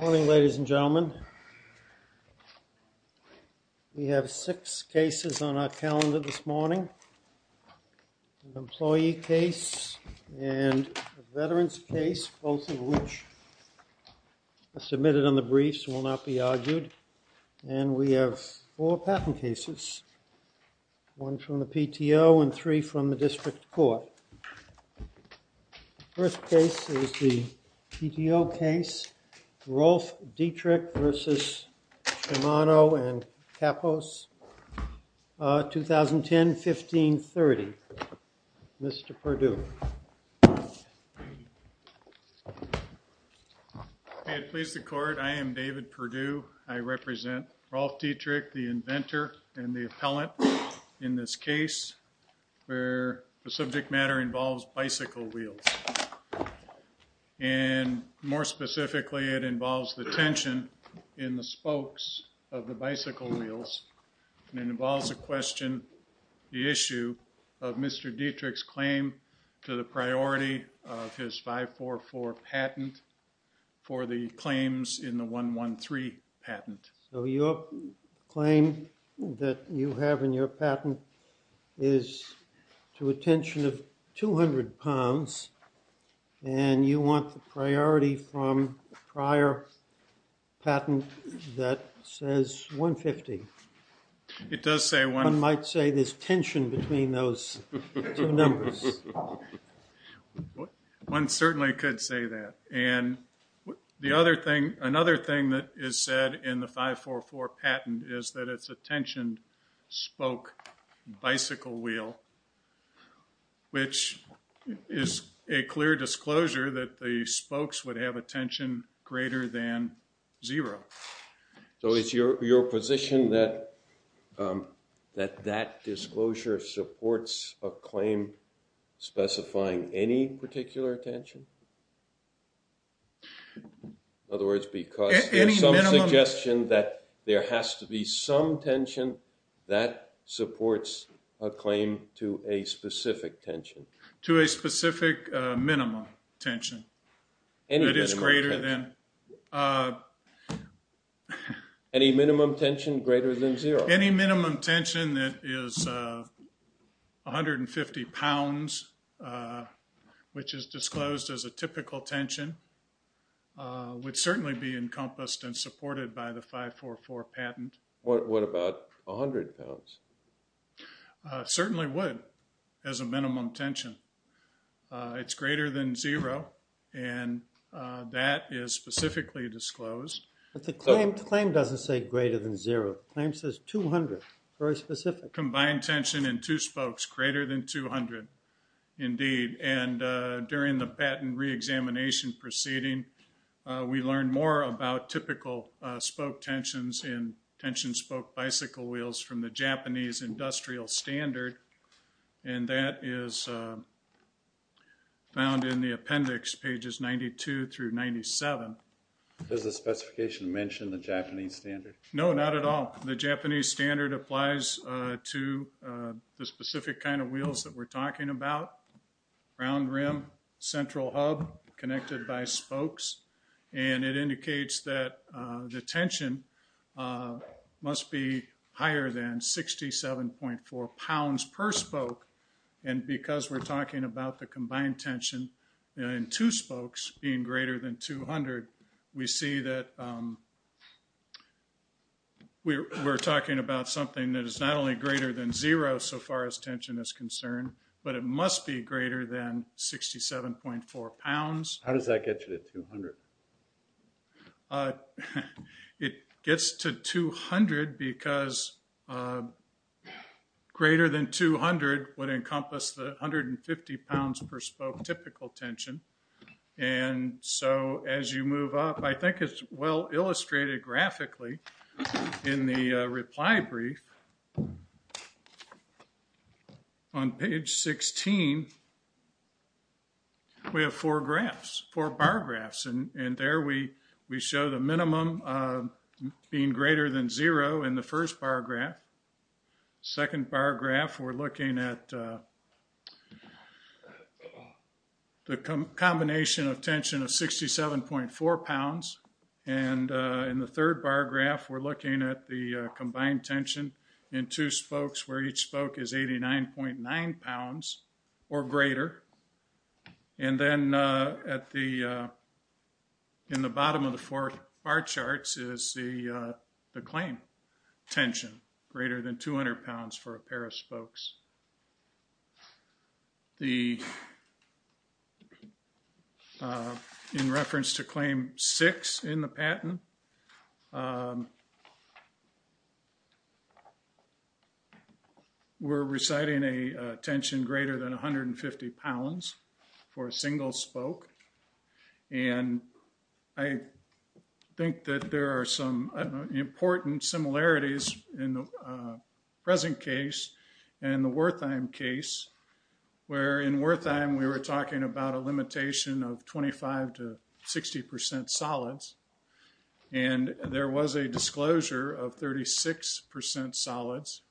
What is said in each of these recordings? Morning ladies and gentlemen We have six cases on our calendar this morning Employee case and veterans case both of which Submitted on the briefs will not be argued and we have four patent cases One from the PTO and three from the district court The first case is the PTO case Rolf Dietrich v. Shimano and Kappos 2010-1530 Mr. Perdue May it please the court I am David Perdue I represent Rolf Dietrich the inventor and the appellant in this case Where the subject matter involves bicycle wheels and More specifically it involves the tension in the spokes of the bicycle wheels And it involves a question the issue of Mr. Dietrich's claim to the priority of his 544 patent for the claims in the 113 patent so your Claim that you have in your patent is to a tension of 200 pounds and You want the priority from prior? patent that says 150 It does say one might say this tension between those numbers One certainly could say that and The other thing another thing that is said in the 544 patent is that it's a tension spoke bicycle wheel Which is a clear disclosure that the spokes would have a tension greater than zero So it's your position that That that disclosure supports a claim specifying any particular attention In other words because Suggestion that there has to be some tension that Supports a claim to a specific tension to a specific minimum tension And it is greater than Any minimum tension greater than zero any minimum tension that is 150 pounds Which is disclosed as a typical tension Would certainly be encompassed and supported by the 544 patent. What about a hundred pounds? Certainly would as a minimum tension it's greater than zero and That is specifically disclosed But the claim claim doesn't say greater than zero claim says 200 very specific combined tension in two spokes greater than 200 indeed and during the patent reexamination Proceeding we learn more about typical spoke tensions in tension spoke bicycle wheels from the Japanese industrial standard and that is Found in the appendix pages 92 through 97 There's a specification to mention the Japanese standard. No, not at all. The Japanese standard applies to the specific kind of wheels that we're talking about round rim Central hub connected by spokes and it indicates that the tension must be higher than 67.4 pounds per spoke and Because we're talking about the combined tension in two spokes being greater than 200. We see that We're talking about something that is not only greater than zero so far as tension is concerned But it must be greater than 67.4 pounds. How does that get you to 200? It gets to 200 because Greater than 200 would encompass the 150 pounds per spoke typical tension and So as you move up, I think it's well illustrated graphically in the reply brief On page 16 We have four graphs four bar graphs and and there we we show the minimum Being greater than zero in the first bar graph second bar graph we're looking at The combination of tension of 67.4 pounds and In the third bar graph we're looking at the combined tension in two spokes where each spoke is 89.9 pounds or greater and then at the In the bottom of the fourth bar charts is the the claim Tension greater than 200 pounds for a pair of spokes The In reference to claim six in the patent We're Reciting a tension greater than 150 pounds for a single spoke and I Think that there are some important similarities in the present case and the worth I'm case Where in worth I'm we were talking about a limitation of 25 to 60 percent solids and there was a disclosure of 36 percent solids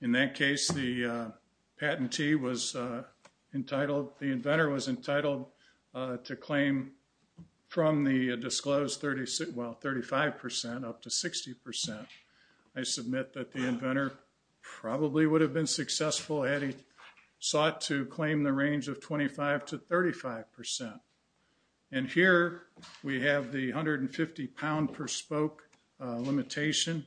in that case the patentee was Entitled the inventor was entitled to claim From the disclosed 36 well 35 percent up to 60 percent. I submit that the inventor probably would have been successful had he sought to claim the range of 25 to 35 percent and Here we have the 150 pound per spoke limitation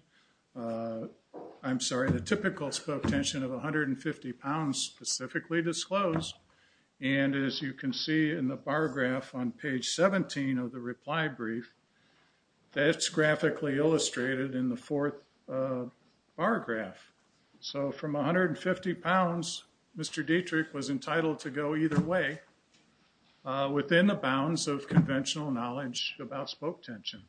I'm sorry, the typical spoke tension of 150 pounds specifically disclosed And as you can see in the bar graph on page 17 of the reply brief That's graphically illustrated in the fourth bar graph So from 150 pounds, mr. Dietrich was entitled to go either way Within the bounds of conventional knowledge about spoke tension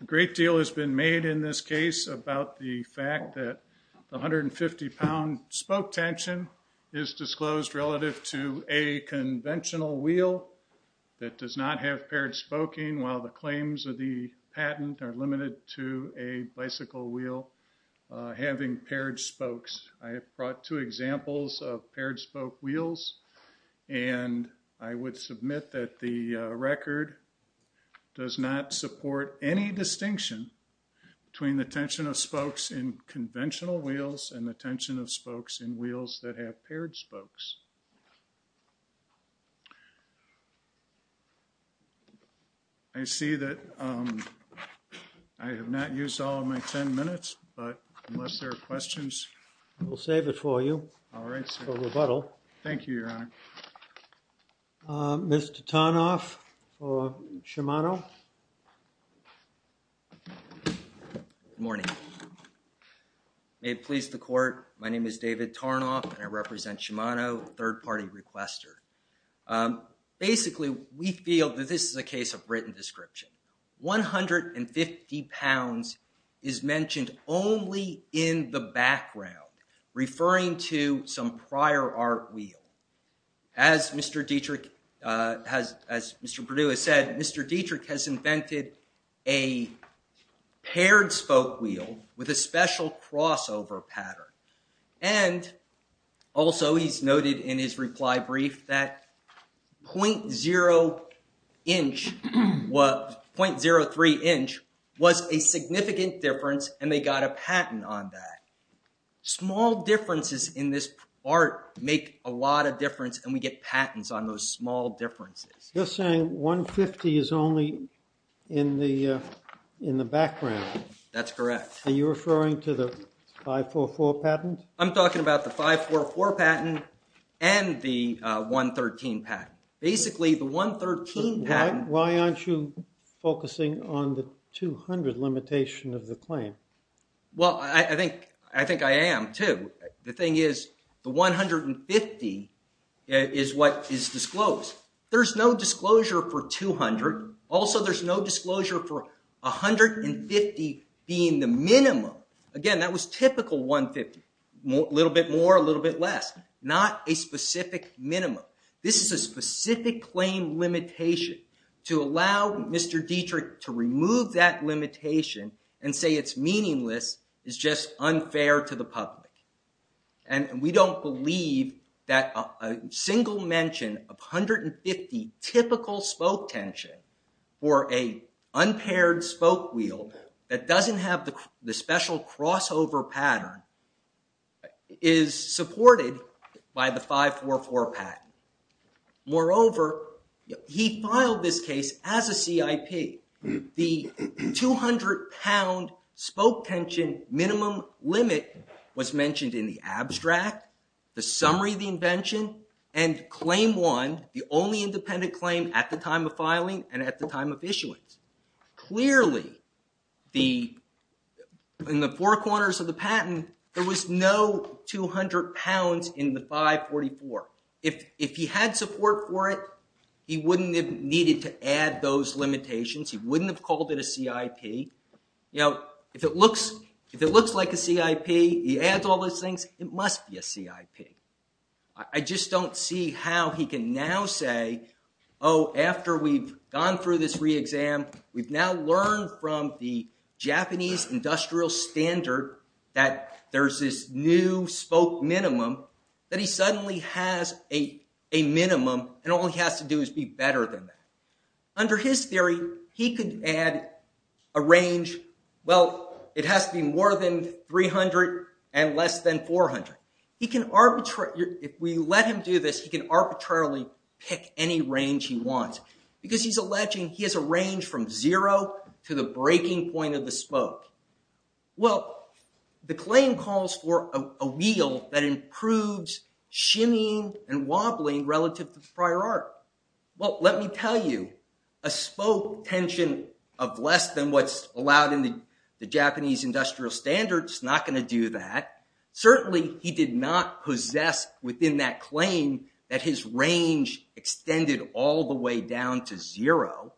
A great deal has been made in this case about the fact that 150 pound spoke tension is disclosed relative to a conventional wheel That does not have paired spoking while the claims of the patent are limited to a bicycle wheel Having paired spokes. I have brought two examples of paired spoke wheels and I would submit that the record Does not support any distinction Between the tension of spokes in conventional wheels and the tension of spokes in wheels that have paired spokes. I See that I Unless there are questions, we'll save it for you. All right, so rebuttal. Thank you, Your Honor Mr. Tarnoff or Shimano Morning May it please the court. My name is David Tarnoff and I represent Shimano third-party requester Basically, we feel that this is a case of written description 150 pounds is mentioned only in the background referring to some prior art wheel as Mr. Dietrich has as Mr. Purdue has said, Mr. Dietrich has invented a Paired spoke wheel with a special crossover pattern and Also, he's noted in his reply brief that 0.0 inch What 0.03 inch was a significant difference and they got a patent on that Small differences in this art make a lot of difference and we get patents on those small differences You're saying 150 is only in the in the background. That's correct are you referring to the 544 patent? I'm talking about the 544 patent and 113 patent basically the 113 patent. Why aren't you Focusing on the 200 limitation of the claim Well, I think I think I am too. The thing is the 150 Is what is disclosed? There's no disclosure for 200. Also, there's no disclosure for 150 being the minimum again That was typical 150 a little bit more a little bit less not a specific minimum This is a specific claim limitation to allow. Mr. Dietrich to remove that limitation and say it's meaningless is just unfair to the public and we don't believe that a single mention of 150 typical spoke tension for a Unpaired spoke wheel that doesn't have the special crossover pattern is Supported by the 544 patent moreover, he filed this case as a CIP the 200 pound spoke tension minimum limit was mentioned in the abstract the summary of the invention and Claim one the only independent claim at the time of filing and at the time of issuance clearly the In the four corners of the patent there was no 200 pounds in the 544 if if he had support for it He wouldn't have needed to add those limitations. He wouldn't have called it a CIP You know if it looks if it looks like a CIP he adds all those things. It must be a CIP. I Just don't see how he can now say oh After we've gone through this re-exam, we've now learned from the Japanese industrial standard that there's this new spoke minimum that he suddenly has a Minimum and all he has to do is be better than that Under his theory he could add a range Well, it has to be more than 300 and less than 400 He can arbitrate if we let him do this he can arbitrarily pick any range he wants because he's alleging He has a range from zero to the breaking point of the spoke well The claim calls for a wheel that improves shimmying and wobbling relative to prior art well Let me tell you a spoke tension of less than what's allowed in the Japanese industrial standard It's not going to do that Certainly he did not possess within that claim that his range Extended all the way down to zero.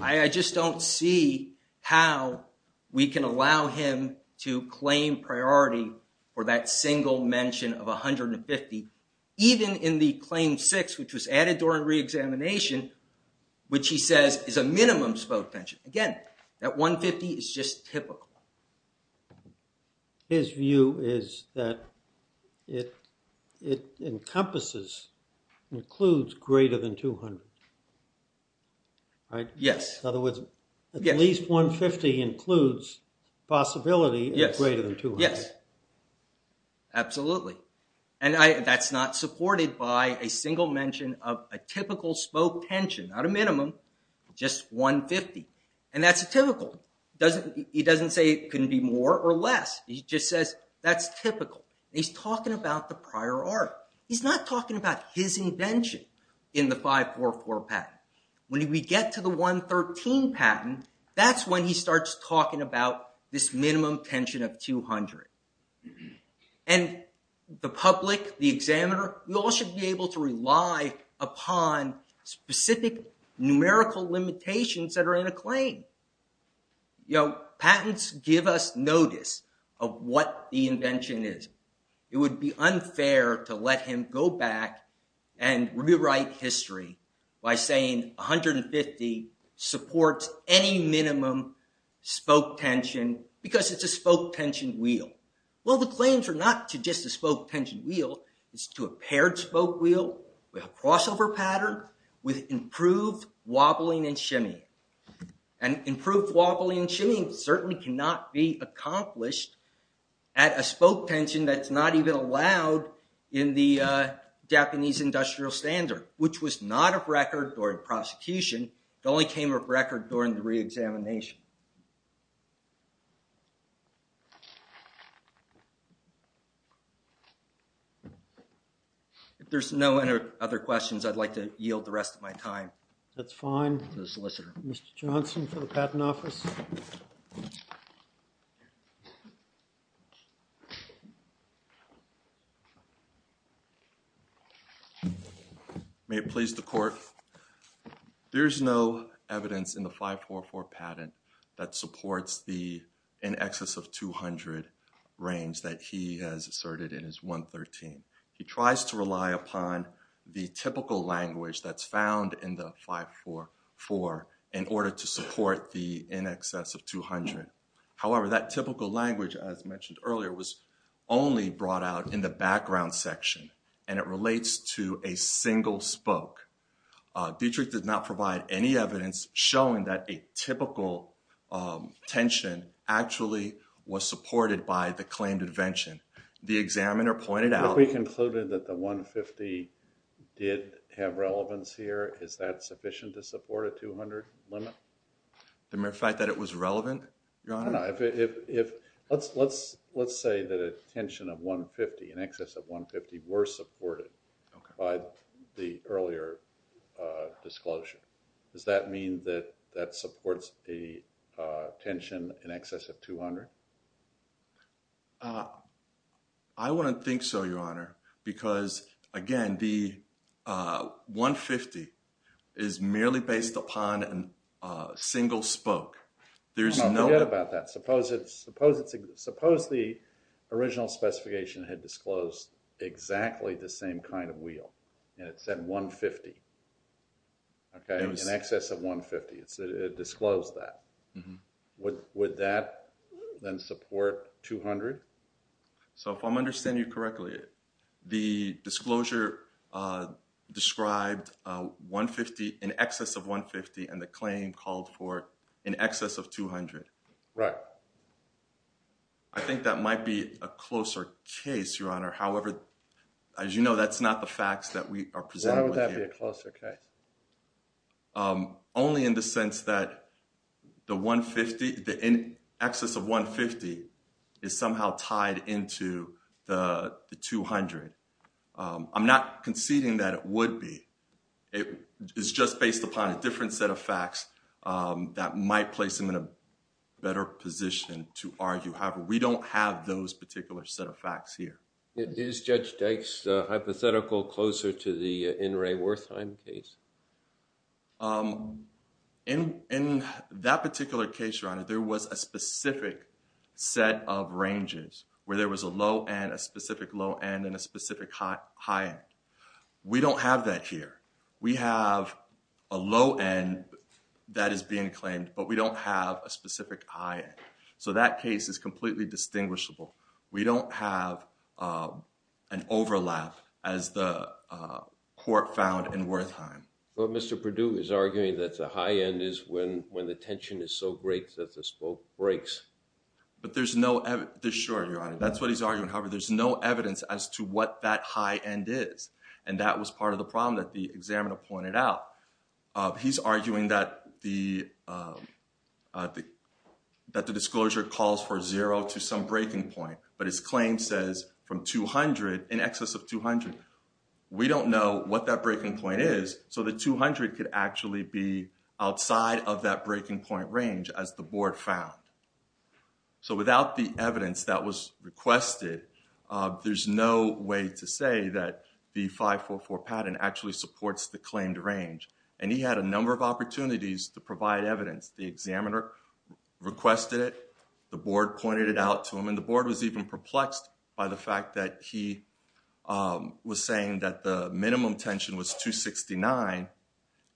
I Just don't see how We can allow him to claim priority for that single mention of a hundred and fifty Even in the claim six which was added during re-examination Which he says is a minimum spoke tension again that 150 is just typical His view is that it it encompasses includes greater than 200 Right, yes, other words at least 150 includes possibility. Yes greater than two. Yes Absolutely, and I that's not supported by a single mention of a typical spoke tension not a minimum Just 150 and that's a typical doesn't he doesn't say it couldn't be more or less He just says that's typical. He's talking about the prior art He's not talking about his invention in the 544 patent when we get to the 113 patent that's when he starts talking about this minimum tension of 200 and The public the examiner we all should be able to rely upon Specific numerical limitations that are in a claim You know patents give us notice of what the invention is It would be unfair to let him go back and rewrite history by saying 150 supports any minimum Spoke tension because it's a spoke tension wheel Well, the claims are not to just a spoke tension wheel is to a paired spoke wheel with a crossover pattern with improved wobbling and shimmy and Improved wobbling and shimmy certainly cannot be accomplished at a spoke tension. That's not even allowed in the Japanese industrial standard which was not of record or in prosecution. It only came of record during the re-examination If There's no other questions, I'd like to yield the rest of my time that's fine the solicitor mr. Johnson for the patent office May it please the court There's no evidence in the 544 patent that supports the in excess of 200 Range that he has asserted in his 113 He tries to rely upon the typical language that's found in the 544 in order to support the in excess of 200 however that typical language as mentioned earlier was Only brought out in the background section and it relates to a single spoke Dietrich did not provide any evidence showing that a typical Tension actually was supported by the claimed invention the examiner pointed out. We concluded that the 150 Did have relevance here. Is that sufficient to support a 200 limit? The mere fact that it was relevant Let's let's let's say that a tension of 150 in excess of 150 were supported by the earlier Disclosure. Does that mean that that supports a tension in excess of 200 I wouldn't think so your honor because again the 150 is merely based upon an Single spoke. There's no about that. Suppose it's suppose it's suppose the original specification had disclosed Exactly the same kind of wheel and it said 150 Okay in excess of 150. It's it disclosed that What would that then support 200? So if I'm understanding you correctly the disclosure Described 150 in excess of 150 and the claim called for in excess of 200, right? I As you know, that's not the facts that we are presenting a closer case Only in the sense that the 150 the in excess of 150 is somehow tied into the 200 I'm not conceding that it would be it is just based upon a different set of facts That might place them in a better position to argue. However, we don't have those particular set of facts here It is judge Dykes hypothetical closer to the in Ray Wertheim case In in that particular case your honor there was a specific Set of ranges where there was a low and a specific low end and a specific high high end We don't have that here. We have a low end That is being claimed, but we don't have a specific high end. So that case is completely distinguishable. We don't have a overlap as the Court found in Wertheim. Well, mr. Purdue is arguing that the high end is when when the tension is so great that the spoke breaks But there's no evidence sure your honor. That's what he's arguing However, there's no evidence as to what that high end is and that was part of the problem that the examiner pointed out he's arguing that the The That the disclosure calls for zero to some breaking point, but his claim says from 200 in excess of 200 We don't know what that breaking point is So the 200 could actually be outside of that breaking point range as the board found So without the evidence that was requested There's no way to say that the 544 pattern actually supports the claimed range and he had a number of opportunities to provide evidence the examiner Requested it the board pointed it out to him and the board was even perplexed by the fact that he was saying that the minimum tension was 269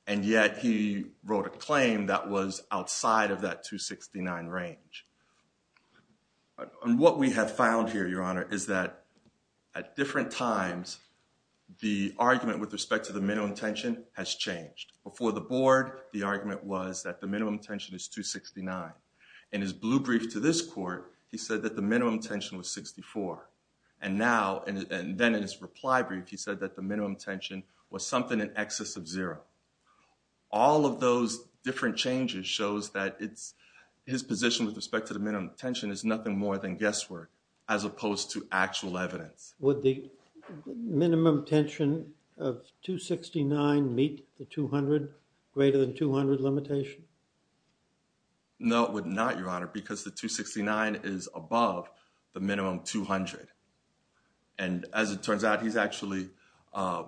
and yet he wrote a claim that was outside of that 269 range And what we have found here your honor is that at different times The argument with respect to the minimum tension has changed before the board the argument was that the minimum tension is 269 in his blue brief to this court He said that the minimum tension was 64 and now and then in his reply brief He said that the minimum tension was something in excess of zero all of those different changes shows that it's his position with respect to the minimum tension is nothing more than guesswork as opposed to actual evidence would the Minimum tension of 269 meet the 200 greater than 200 limitation No, it would not your honor because the 269 is above the minimum 200 and as it turns out he's actually I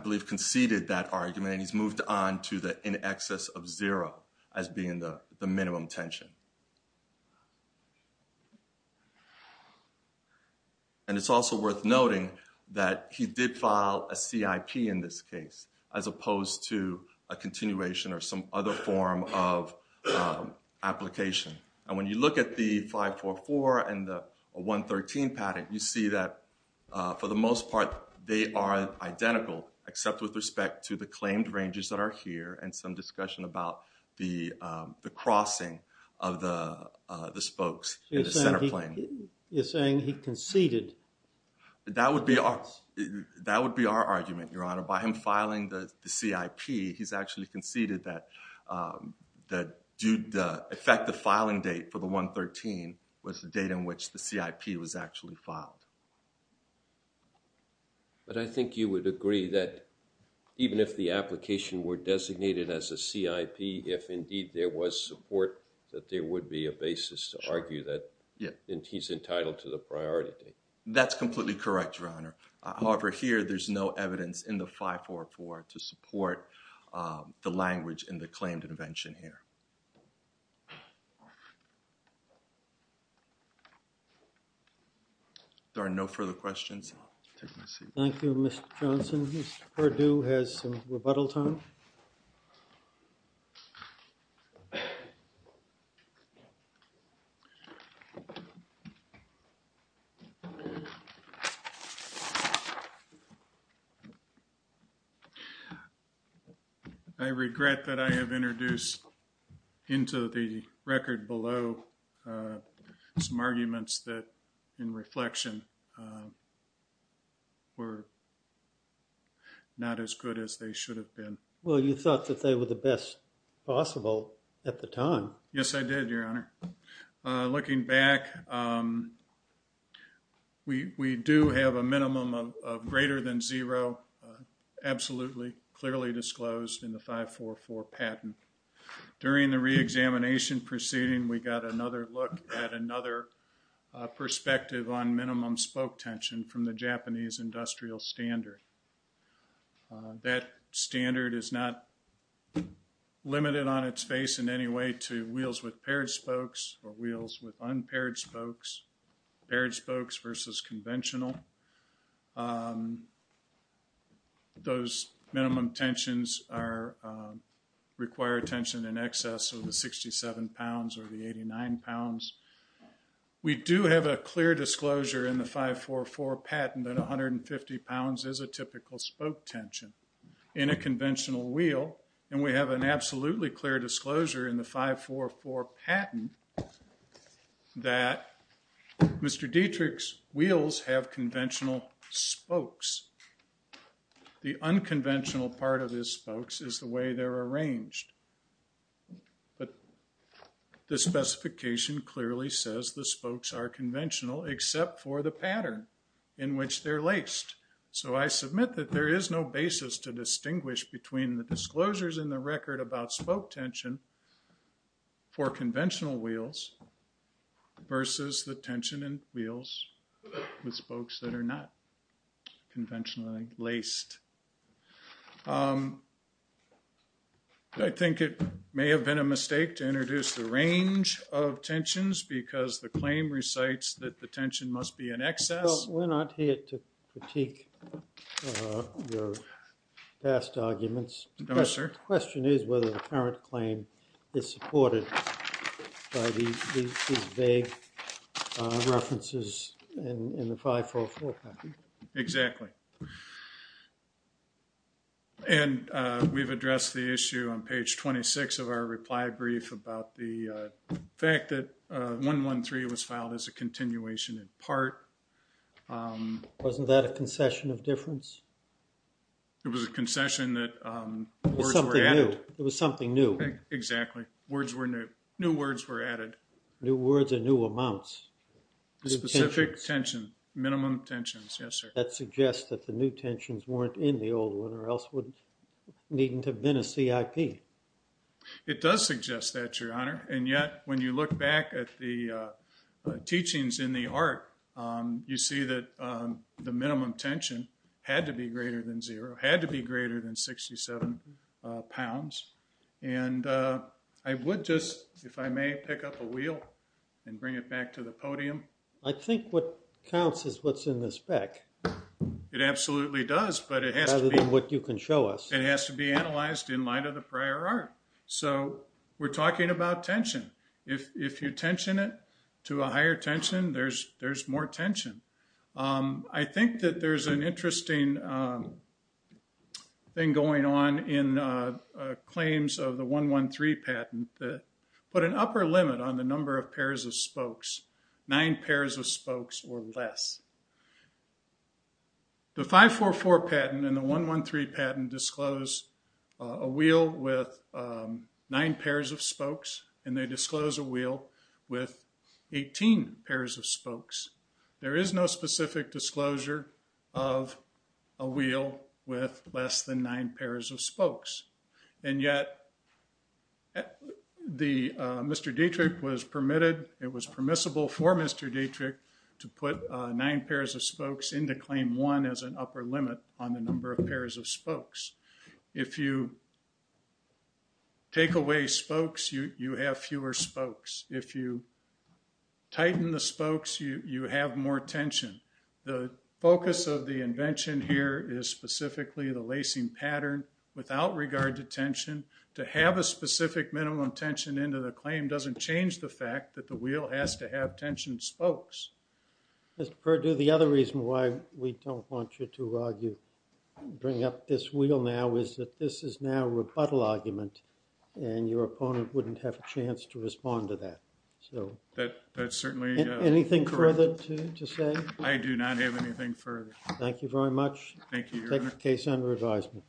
Believe conceded that argument and he's moved on to the in excess of zero as being the the minimum tension And it's also worth noting that he did file a CIP in this case as opposed to a continuation or some other form of Application and when you look at the 544 and the 113 patent you see that for the most part they are identical except with respect to the claimed ranges that are here and some discussion about the crossing of the spokes Center point you're saying he conceded That would be our that would be our argument your honor by him filing the CIP. He's actually conceded that That dude the effective filing date for the 113 was the date in which the CIP was actually filed But I think you would agree that Even if the application were designated as a CIP if indeed there was support that there would be a basis to argue that Yeah, and he's entitled to the priority. That's completely correct your honor. However here. There's no evidence in the 544 to support the language in the claimed intervention here There are no further questions Thank You mr. Johnson or do has some rebuttal time I Regret that I have introduced into the record below some arguments that in reflection Were Not as good as they should have been well you thought that they were the best possible at the time yes, I did your honor looking back We we do have a minimum of greater than zero Absolutely clearly disclosed in the 544 patent during the reexamination proceeding. We got another look at another Perspective on minimum spoke tension from the Japanese industrial standard That standard is not Limited on its face in any way to wheels with paired spokes or wheels with unpaired spokes paired spokes versus conventional Those minimum tensions are require attention in excess of the 67 pounds or the 89 pounds We do have a clear disclosure in the 544 patent at 150 pounds as a typical spoke tension In a conventional wheel and we have an absolutely clear disclosure in the 544 patent Mr. Dietrich's wheels have conventional spokes The unconventional part of his spokes is the way they're arranged but The specification clearly says the spokes are conventional except for the pattern in which they're laced So I submit that there is no basis to distinguish between the disclosures in the record about spoke tension for conventional wheels Versus the tension and wheels with spokes that are not conventionally laced I Think it may have been a mistake to introduce the range of tensions because the claim recites that the tension must be in excess We're not here to critique Your past arguments. No, sir. The question is whether the current claim is supported by these vague References in the 544 patent. Exactly And We've addressed the issue on page 26 of our reply brief about the Fact that one one three was filed as a continuation in part Wasn't that a concession of difference It was a concession that It was something new exactly words were new new words were added new words and new amounts Specific tension minimum tensions. Yes, sir That suggests that the new tensions weren't in the old one or else wouldn't needn't have been a CIP it does suggest that your honor and yet when you look back at the teachings in the art You see that the minimum tension had to be greater than zero had to be greater than 67 pounds and I would just if I may pick up a wheel and bring it back to the podium and Think what counts is what's in this back? It absolutely does but it has to be what you can show us it has to be analyzed in light of the prior art So we're talking about tension if you tension it to a higher tension. There's there's more tension I think that there's an interesting Thing going on in 113 patent that put an upper limit on the number of pairs of spokes nine pairs of spokes or less The five four four patent and the one one three patent disclosed a wheel with nine pairs of spokes and they disclose a wheel with 18 pairs of spokes there is no specific disclosure of a wheel with less than nine pairs of spokes and yet At the mr. Dietrich was permitted it was permissible for mr Dietrich to put nine pairs of spokes into claim one as an upper limit on the number of pairs of spokes if you Take away spokes you you have fewer spokes if you Tighten the spokes you you have more tension the focus of the invention here is specifically the lacing pattern Without regard to tension to have a specific minimum tension into the claim doesn't change the fact that the wheel has to have tension spokes Mr. Purdue the other reason why we don't want you to argue Bring up this wheel now is that this is now a rebuttal argument and your opponent wouldn't have a chance to respond to that So that that's certainly anything further to say I do not have anything further. Thank you very much Case under advisement